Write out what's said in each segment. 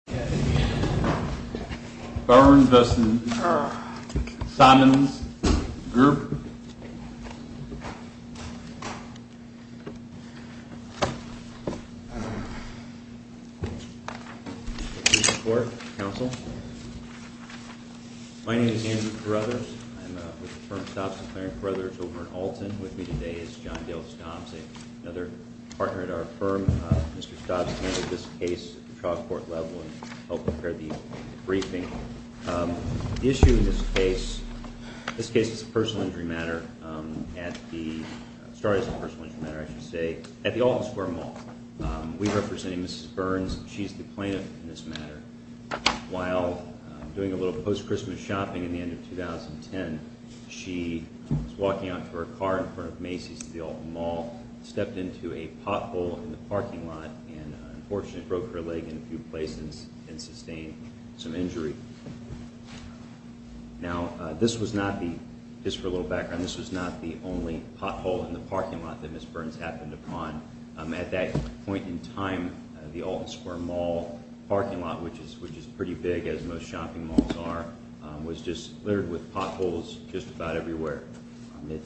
I'm with the firm Stobson & Clarence Brothers over in Alton, with me today is John Dale Stomps, another partner at our firm. Mr. Stomps handled this case at the trial court level, and he's going to talk to us a little bit about how he handled it. The issue in this case, this case is a personal injury matter at the, started as a personal injury matter I should say, at the Alton Square Mall. We represented Mrs. Burns, she's the plaintiff in this matter. While doing a little post-Christmas shopping in the end of 2010, she was walking out to her car in front of Macy's at the Alton Mall, stepped into a pothole in the parking lot, and unfortunately broke her leg in a few places and sustained some injury. Now, this was not the, just for a little background, this was not the only pothole in the parking lot that Mrs. Burns happened upon. At that point in time, the Alton Square Mall parking lot, which is pretty big as most shopping malls are, was just littered with potholes just about everywhere. It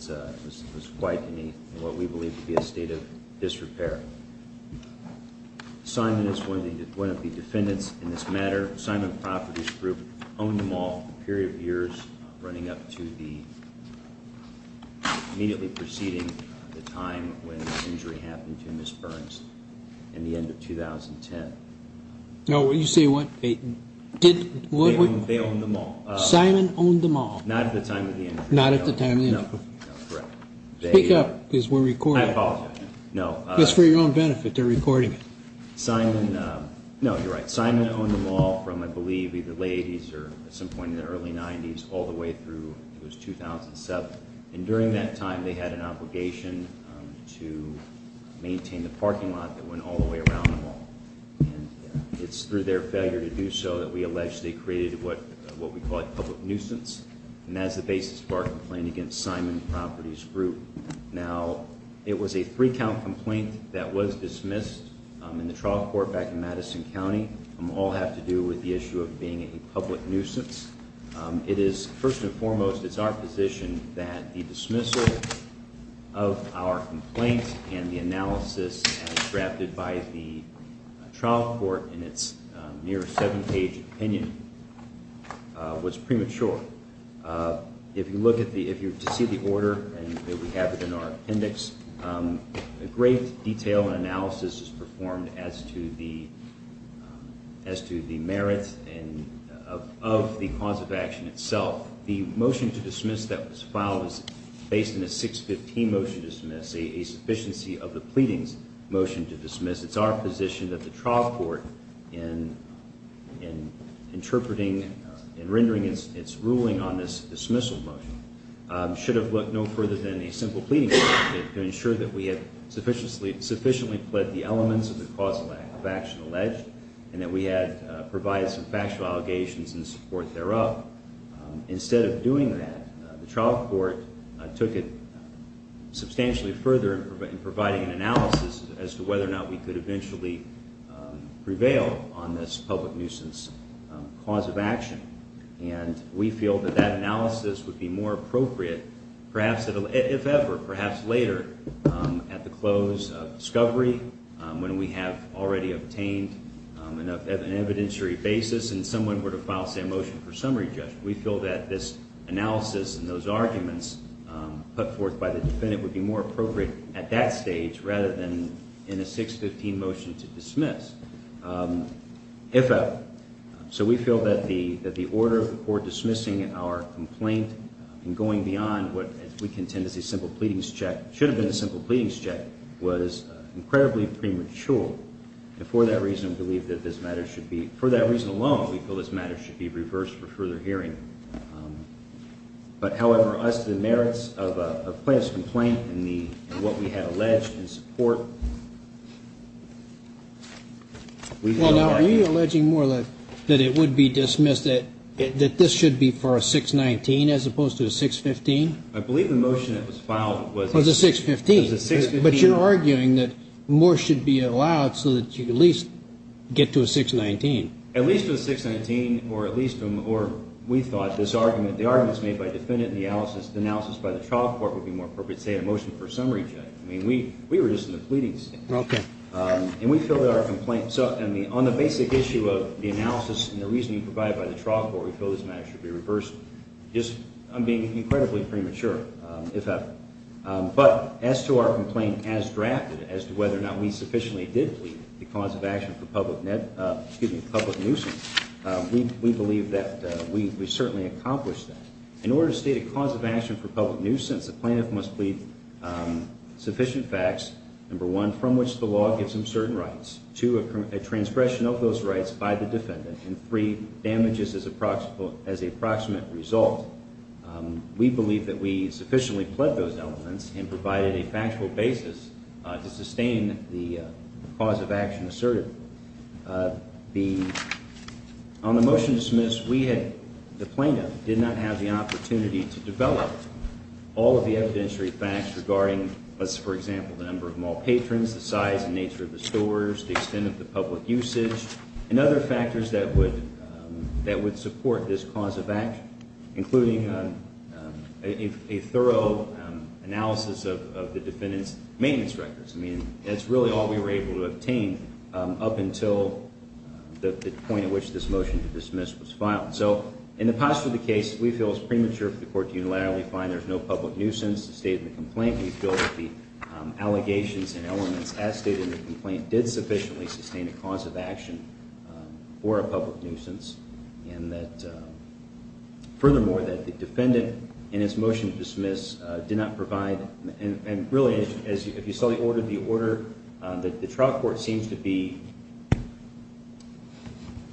was quite in what we believe to be a state of disrepair. Simon is one of the defendants in this matter. Simon Properties Group owned the mall for a period of years, running up to the, immediately preceding the time when the injury happened to Mrs. Burns in the end of 2010. No, you say what? They owned the mall. Simon owned the mall. Not at the time of the injury. Not at the time of the injury. No, no, correct. Speak up, because we're recording. I apologize. No. Just for your own benefit, they're recording it. Simon, no, you're right. Simon owned the mall from, I believe, either late 80s or at some point in the early 90s all the way through, it was 2007. And during that time, they had an obligation to maintain the parking lot that went all the way around the mall. And it's through their failure to do so that we allege they created what we call a public nuisance. And that is the basis of our complaint against Simon Properties Group. Now, it was a three-count complaint that was dismissed in the trial court back in Madison County. All have to do with the issue of being a public nuisance. It is, first and foremost, it's our position that the dismissal of our complaint and the analysis as drafted by the trial court in its near seven-page opinion was premature. If you look at the order, and we have it in our appendix, a great detail and analysis is performed as to the merits of the cause of action itself. The motion to dismiss that was filed was based on a 615 motion to dismiss, a sufficiency of the pleadings motion to dismiss. It's our position that the trial court, in interpreting and rendering its ruling on this dismissal motion, should have looked no further than a simple pleading motion to ensure that we had sufficiently pled the elements of the cause of action alleged, and that we had provided some factual allegations in support thereof. Instead of doing that, the trial court took it substantially further in providing an analysis as to whether or not we could eventually prevail on this public nuisance cause of action. And we feel that that analysis would be more appropriate, if ever, perhaps later, at the close of discovery, when we have already obtained an evidentiary basis and someone were to file, say, a motion for summary judgment. We feel that this analysis and those arguments put forth by the defendant would be more appropriate at that stage rather than in a 615 motion to dismiss, if ever. So we feel that the order of the court dismissing our complaint and going beyond what we contend is a simple pleadings check, should have been a simple pleadings check, was incredibly premature. And for that reason, we believe that this matter should be, for that reason alone, we feel this matter should be reversed for further hearing. But, however, as to the merits of a plaintiff's complaint and what we had alleged in support, we feel that... Well, now, are you alleging more that it would be dismissed, that this should be for a 619 as opposed to a 615? I believe the motion that was filed was... Was a 615. Was a 615. But you're arguing that more should be allowed so that you at least get to a 619. At least a 619, or at least, or we thought this argument, the arguments made by the defendant and the analysis by the trial court would be more appropriate, say, a motion for summary judgment. I mean, we were just in the pleadings. Okay. And we feel that our complaint... So, I mean, on the basic issue of the analysis and the reasoning provided by the trial court, we feel this matter should be reversed. I'm being incredibly premature, if ever. But, as to our complaint as drafted, as to whether or not we sufficiently did plead the cause of action for public nuisance, we believe that we certainly accomplished that. In order to state a cause of action for public nuisance, the plaintiff must plead sufficient facts. Number one, from which the law gives him certain rights. Two, a transgression of those rights by the defendant. And three, damages as a proximate result. We believe that we sufficiently pled those elements and provided a factual basis to sustain the cause of action asserted. On the motion to dismiss, the plaintiff did not have the opportunity to develop all of the evidentiary facts regarding, for example, the number of mall patrons, the size and nature of the stores, the extent of the public usage, and other factors that would support this cause of action, including a thorough analysis of the defendant's maintenance records. I mean, that's really all we were able to obtain up until the point at which this motion to dismiss was filed. So, in the posture of the case, we feel it's premature for the court to unilaterally find there's no public nuisance to state in the complaint. We feel that the allegations and elements as stated in the complaint did sufficiently sustain a cause of action for a public nuisance. And that, furthermore, that the defendant, in its motion to dismiss, did not provide, and really, if you saw the order, the order, the trial court seems to be,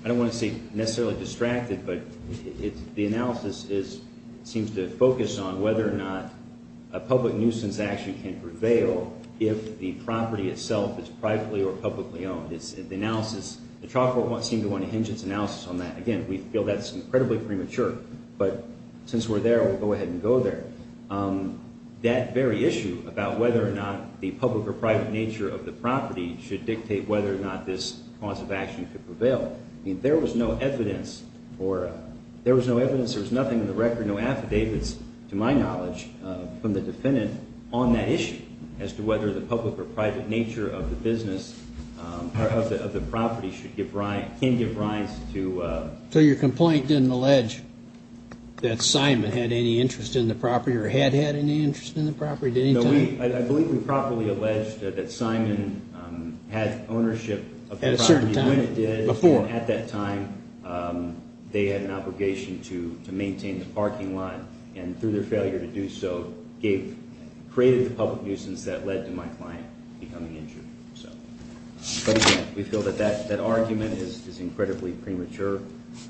I don't want to say necessarily distracted, but the analysis seems to focus on whether or not a public nuisance action can prevail if the property itself is privately or publicly owned. The trial court won't seem to want to hinge its analysis on that. Again, we feel that's incredibly premature, but since we're there, we'll go ahead and go there. That very issue about whether or not the public or private nature of the property should dictate whether or not this cause of action could prevail, I mean, there was no evidence or there was no evidence, there was nothing in the record, no affidavits, to my knowledge, from the defendant on that issue as to whether the public or private nature of the business or of the property should give rise, can give rise to... So your complaint didn't allege that Simon had any interest in the property or had had any interest in the property at any time? No, I believe we properly alleged that Simon had ownership of the property when it did. At a certain time, before? At that time, they had an obligation to maintain the parking lot, and through their failure to do so, created the public nuisance that led to my client becoming injured. We feel that that argument is incredibly premature,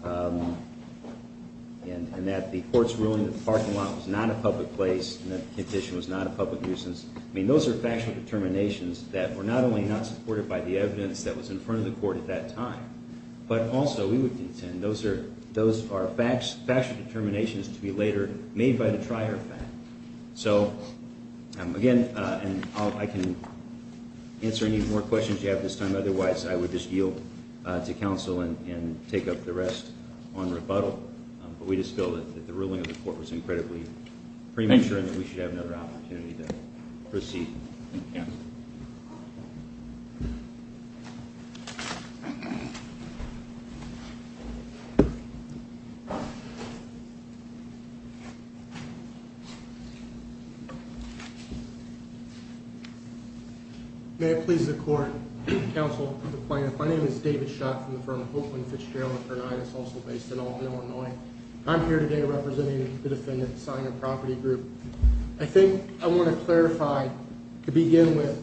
and that the court's ruling that the parking lot was not a public place and that the condition was not a public nuisance, I mean, those are factual determinations that were not only not supported by the evidence that was in front of the court at that time, but also we would contend those are factual determinations to be later made by the trier fact. So, again, I can answer any more questions you have at this time. Otherwise, I would just yield to counsel and take up the rest on rebuttal. But we just feel that the ruling of the court was incredibly premature and that we should have another opportunity to proceed. Thank you, counsel. May it please the court, counsel, the plaintiff. My name is David Schott from the firm of Oakland Fitzgerald, and it's also based in Albany, Illinois. I'm here today representing the defendant, Simon Property Group. I think I want to clarify, to begin with,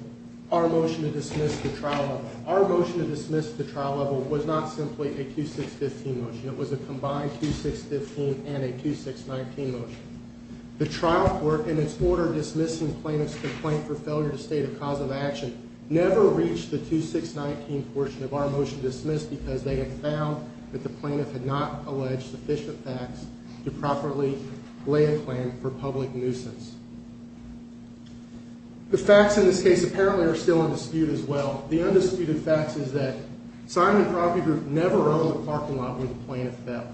our motion to dismiss the trial level. Our motion to dismiss the trial level was not simply a 2-6-15 motion. It was a combined 2-6-15 and a 2-6-19 motion. The trial court, in its order dismissing plaintiff's complaint for failure to state a cause of action, never reached the 2-6-19 portion of our motion to dismiss because they had found that the plaintiff had not alleged sufficient facts to properly lay a claim for public nuisance. The facts in this case apparently are still in dispute as well. The undisputed fact is that Simon Property Group never owned a parking lot where the plaintiff fell.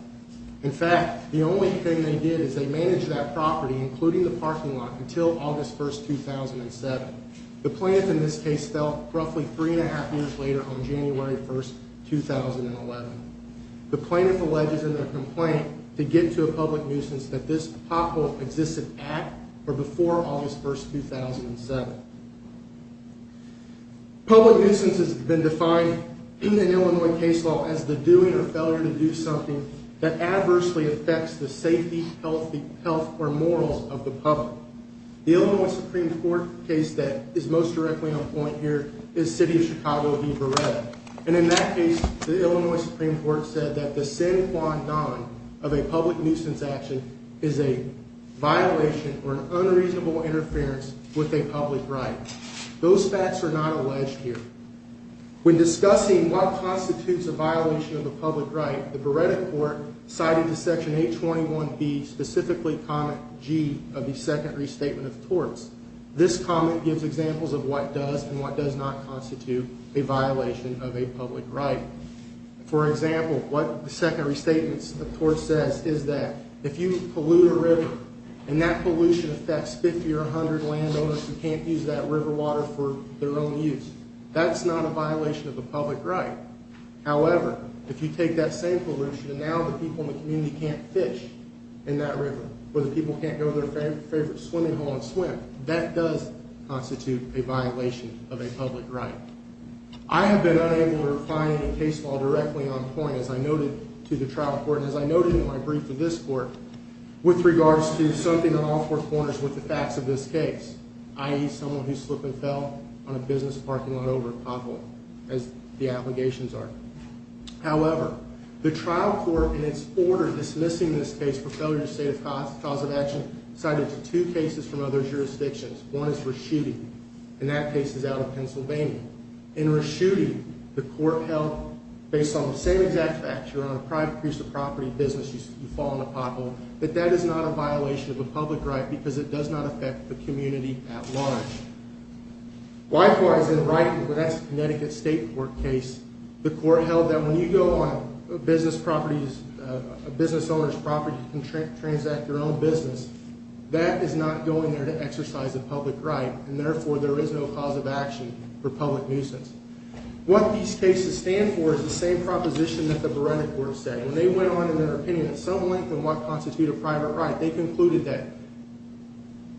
In fact, the only thing they did is they managed that property, including the parking lot, until August 1, 2007. The plaintiff in this case fell roughly three and a half years later on January 1, 2011. The plaintiff alleges in their complaint to get to a public nuisance that this pothole existed at or before August 1, 2007. Public nuisance has been defined in the Illinois case law as the doing or failure to do something that adversely affects the safety, health, or morals of the public. The Illinois Supreme Court case that is most directly on point here is the City of Chicago v. Beretta. And in that case, the Illinois Supreme Court said that the sine qua non of a public nuisance action is a violation or an unreasonable interference with a public right. Those facts are not alleged here. When discussing what constitutes a violation of a public right, the Beretta court cited the Section 821B, specifically Comment G, of the Second Restatement of Torts. This comment gives examples of what does and what does not constitute a violation of a public right. For example, what the Second Restatement of Torts says is that if you pollute a river and that pollution affects 50 or 100 landowners who can't use that river water for their own use, that's not a violation of a public right. However, if you take that same pollution and now the people in the community can't fish in that river or the people can't go to their favorite swimming hole and swim, that does constitute a violation of a public right. I have been unable to find a case file directly on point as I noted to the trial court and as I noted in my brief to this court with regards to something on all four corners with the facts of this case, i.e. someone who slipped and fell on a business parking lot over at Poplar, as the allegations are. However, the trial court, in its order dismissing this case for failure to state a cause of action, cited two cases from other jurisdictions. One is Reschutte, and that case is out of Pennsylvania. In Reschutte, the court held, based on the same exact facts, you're on a private piece of property business, you fall in a pothole, that that is not a violation of a public right because it does not affect the community at large. Likewise, in Riton, where that's a Connecticut State court case, the court held that when you go on a business owner's property and transact your own business, that is not going there to exercise a public right, and therefore there is no cause of action for public nuisance. What these cases stand for is the same proposition that the Beretta court said. When they went on in their opinion at some length on what constitutes a private right, they concluded that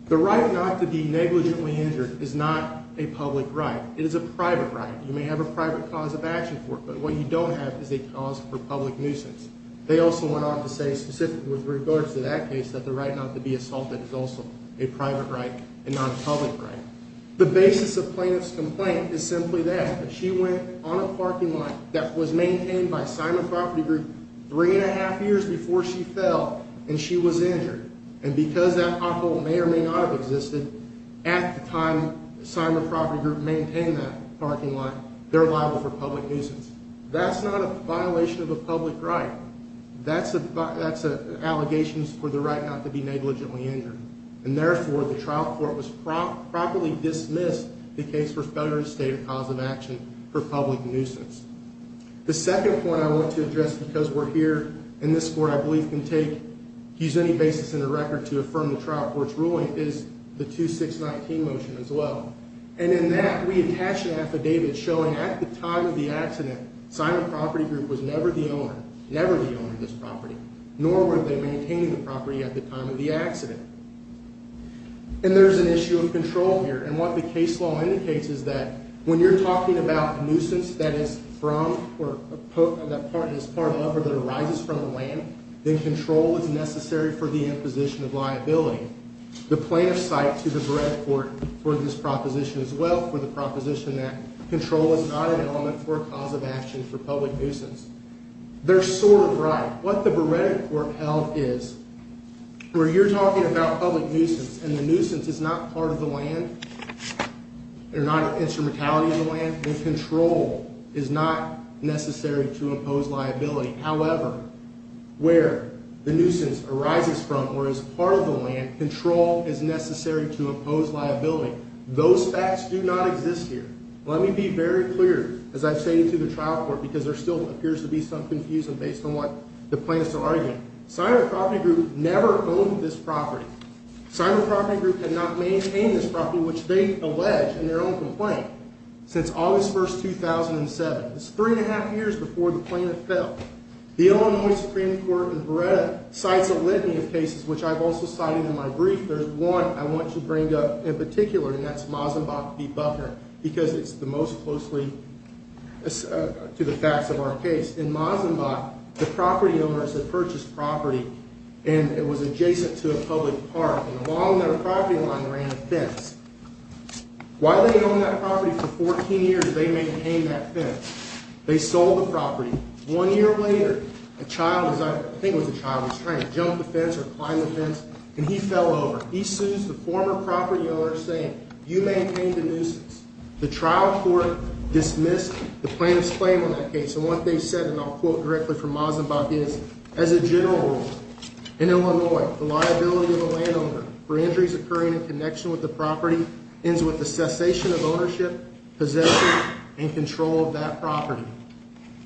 the right not to be negligently injured is not a public right. It is a private right. You may have a private cause of action for it, but what you don't have is a cause for public nuisance. They also went on to say, specifically with regards to that case, that the right not to be assaulted is also a private right and not a public right. The basis of plaintiff's complaint is simply that. She went on a parking lot that was maintained by Simon Property Group three and a half years before she fell, and she was injured. And because that pothole may or may not have existed at the time Simon Property Group maintained that parking lot, they're liable for public nuisance. That's not a violation of a public right. That's an allegation for the right not to be negligently injured, and therefore the trial court was properly dismissed the case for failure to state a cause of action for public nuisance. The second point I want to address because we're here and this court, I believe, can use any basis in the record to affirm the trial court's ruling is the 2619 motion as well. And in that, we attach an affidavit showing at the time of the accident, Simon Property Group was never the owner, never the owner of this property, nor were they maintaining the property at the time of the accident. And there's an issue of control here, and what the case law indicates is that when you're talking about a nuisance that is part of or that arises from the land, then control is necessary for the imposition of liability. The plaintiff's cite to the Beretta court for this proposition as well, for the proposition that control is not an element for a cause of action for public nuisance. They're sort of right. What the Beretta court held is where you're talking about public nuisance, and the nuisance is not part of the land or not an instrumentality of the land, then control is not necessary to impose liability. However, where the nuisance arises from or is part of the land, control is necessary to impose liability. Those facts do not exist here. Let me be very clear, as I've stated to the trial court, because there still appears to be some confusion based on what the plaintiffs are arguing. Simon Property Group never owned this property. Simon Property Group had not maintained this property, which they allege in their own complaint, since August 1, 2007. That's three and a half years before the plaintiff fell. The Illinois Supreme Court in Beretta cites a litany of cases, which I've also cited in my brief. There's one I want you to bring up in particular, and that's Mazenbach v. Buckner, because it's the most closely to the facts of our case. In Mazenbach, the property owners had purchased property, and it was adjacent to a public park, and along their property line ran a fence. While they owned that property for 14 years, they maintained that fence. They sold the property. One year later, a child, I think it was a child, was trying to jump the fence or climb the fence, and he fell over. He sues the former property owner, saying, you maintained the nuisance. The trial court dismissed the plaintiff's claim on that case, and what they said, and I'll quote directly from Mazenbach, is, In Illinois, the liability of a landowner for injuries occurring in connection with the property ends with the cessation of ownership, possession, and control of that property.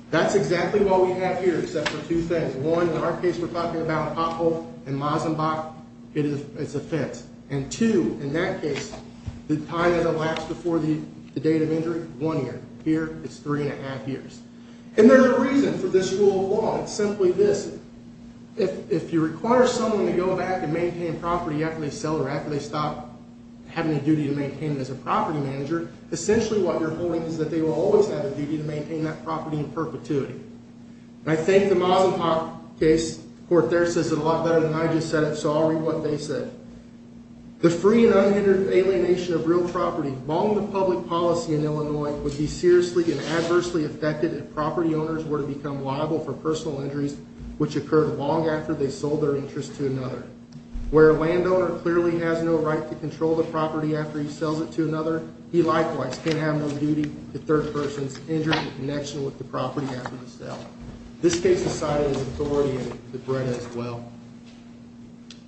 That's exactly what we have here, except for two things. One, in our case, we're talking about Pothole and Mazenbach. It's a fence. And two, in that case, the time of the lapse before the date of injury, one year. Here, it's three and a half years. And there's a reason for this rule of law. It's simply this. If you require someone to go back and maintain property after they sell or after they stop having a duty to maintain it as a property manager, essentially what you're holding is that they will always have a duty to maintain that property in perpetuity. And I think the Mazenbach case, the court there says it a lot better than I just said it, so I'll read what they said. The free and unhindered alienation of real property, along with public policy in Illinois, would be seriously and adversely affected if property owners were to become liable for personal injuries, which occurred long after they sold their interest to another. Where a landowner clearly has no right to control the property after he sells it to another, he likewise can't have no duty to third persons injured in connection with the property after the sale. This case is cited as authority in the Brenna as well.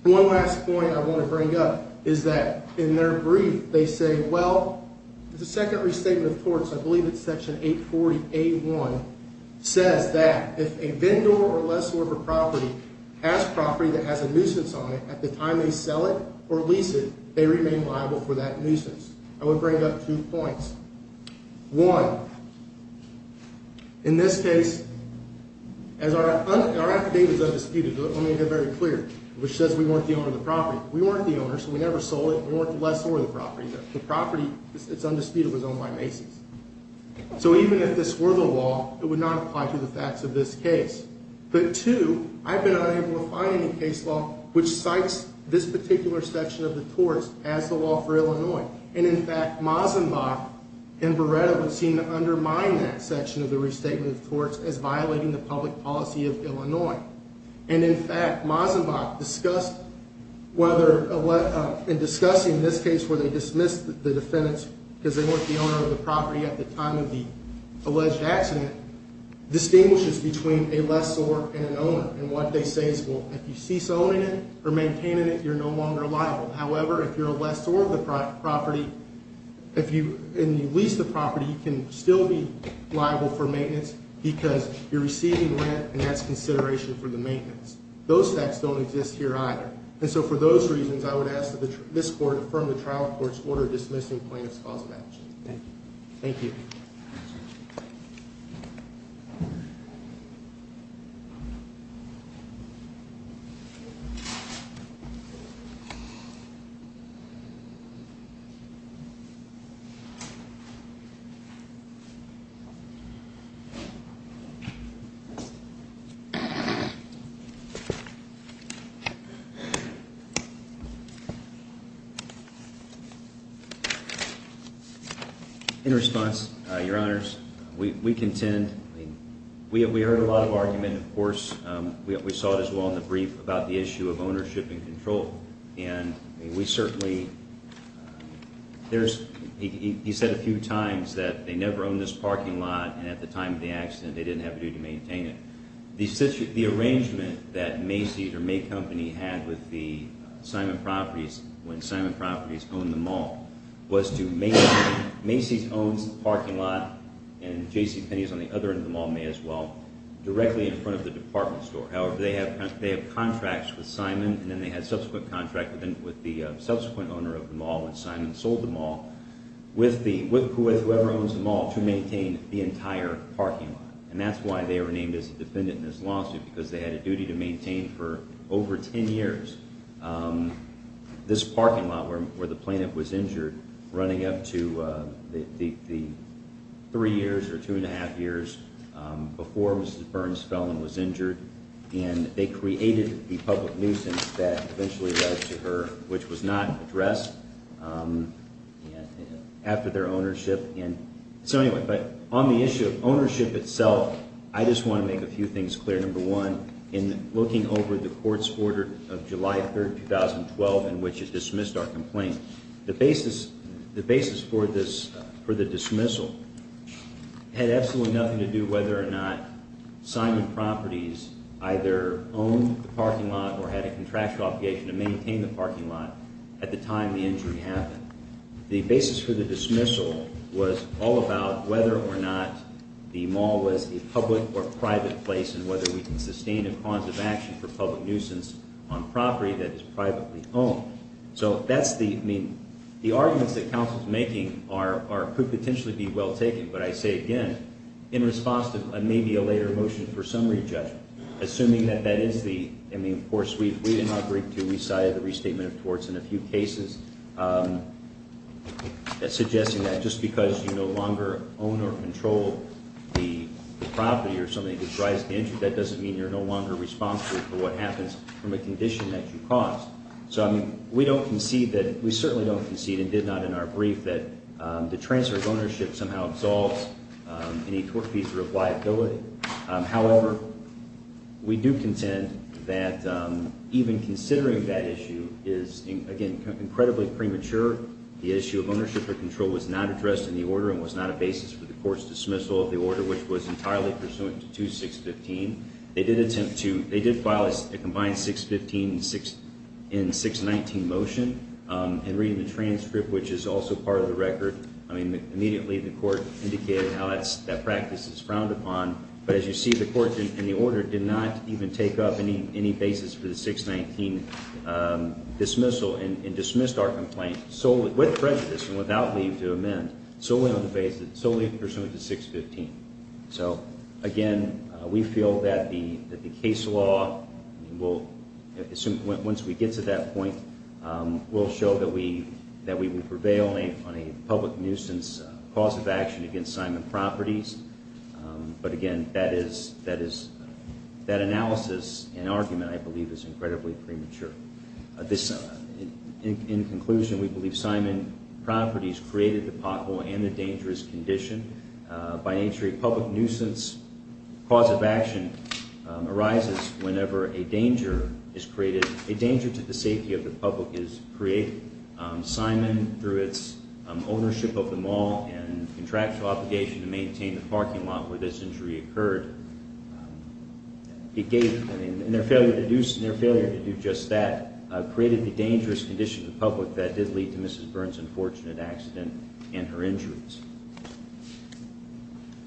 One last point I want to bring up is that in their brief they say, well, the second restatement of torts, I believe it's section 840A1, says that if a vendor or lessor of a property has property that has a nuisance on it at the time they sell it or lease it, they remain liable for that nuisance. I would bring up two points. One, in this case, as our affidavit is undisputed, let me make it very clear, which says we weren't the owner of the property. We weren't the owner, so we never sold it, and we weren't the lessor of the property. The property, it's undisputed, was owned by Macy's. So even if this were the law, it would not apply to the facts of this case. But two, I've been unable to find any case law which cites this particular section of the torts as the law for Illinois. And in fact, Mazenbach and Beretta would seem to undermine that section of the restatement of torts as violating the public policy of Illinois. And in fact, Mazenbach discussed whether, in discussing this case where they dismissed the defendants because they weren't the owner of the property at the time of the alleged accident, distinguishes between a lessor and an owner. And what they say is, well, if you cease owning it or maintaining it, you're no longer liable. However, if you're a lessor of the property, if you lease the property, you can still be liable for maintenance because you're receiving rent, and that's consideration for the maintenance. Those facts don't exist here either. And so for those reasons, I would ask that this court affirm the trial court's order dismissing plaintiff's cause of action. Thank you. In response, Your Honors, we contend we heard a lot of argument, of course. We saw it as well in the brief about the issue of ownership and control. And we certainly, there's, he said a few times that they never owned this parking lot, and at the time of the accident, they didn't have a duty to maintain it. The arrangement that Macy's or May Company had with the Simon Properties, when Simon Properties owned the mall, was to, Macy's owns the parking lot, and JCPenney's on the other end of the mall may as well, directly in front of the department store. However, they have contracts with Simon, and then they had subsequent contracts with the subsequent owner of the mall, when Simon sold the mall, with whoever owns the mall, to maintain the entire parking lot. And that's why they were named as a defendant in this lawsuit, because they had a duty to maintain for over ten years this parking lot where the plaintiff was injured, running up to the three years or two and a half years before Mrs. Burns fell and was injured. And they created the public nuisance that eventually led to her, which was not addressed after their ownership. So anyway, on the issue of ownership itself, I just want to make a few things clear. Number one, in looking over the court's order of July 3, 2012, in which it dismissed our complaint, the basis for the dismissal had absolutely nothing to do whether or not Simon Properties either owned the parking lot or had a contractual obligation to maintain the parking lot at the time the injury happened. The basis for the dismissal was all about whether or not the mall was a public or private place and whether we can sustain a cause of action for public nuisance on property that is privately owned. So that's the – I mean, the arguments that counsel is making are – could potentially be well taken, but I say again, in response to maybe a later motion for summary judgment, assuming that that is the – I mean, of course, we did not agree to resign the restatement of torts in a few cases, suggesting that just because you no longer own or control the property or something that drives the injury, that doesn't mean you're no longer responsible for what happens from a condition that you caused. So, I mean, we don't concede that – we certainly don't concede, and did not in our brief, that the transfer of ownership somehow absolves any tort fees or liability. However, we do contend that even considering that issue is, again, incredibly premature. The issue of ownership or control was not addressed in the order and was not a basis for the court's dismissal of the order, which was entirely pursuant to 2-615. They did attempt to – they did file a combined 6-15 and 6-19 motion, and reading the transcript, which is also part of the record, I mean, immediately the court indicated how that practice is frowned upon, but as you see, the court in the order did not even take up any basis for the 6-19 dismissal and dismissed our complaint solely – with prejudice and without leave to amend, solely on the basis – solely pursuant to 6-15. So, again, we feel that the case law will – once we get to that point, will show that we prevail on a public nuisance cause of action against Simon Properties. But, again, that is – that analysis and argument, I believe, is incredibly premature. In conclusion, we believe Simon Properties created the pothole and the dangerous condition by nature of public nuisance cause of action arises whenever a danger is created – a danger to the safety of the public is created. Simon, through its ownership of the mall and contractual obligation to maintain the parking lot where this injury occurred, it gave – and their failure to do – and their failure to do just that created the dangerous condition of the public that did lead to Mrs. Burns' unfortunate accident and her injuries.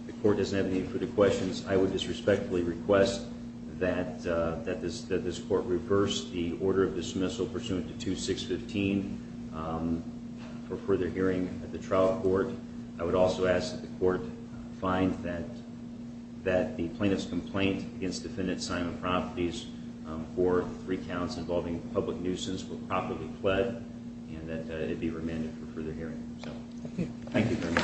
The court doesn't have any further questions. I would disrespectfully request that this court reverse the order of dismissal pursuant to 2-6-15 for further hearing at the trial court. I would also ask that the court find that the plaintiff's complaint against defendant Simon Properties for three counts involving public nuisance were properly pled and that it be remanded for further hearing. Thank you very much.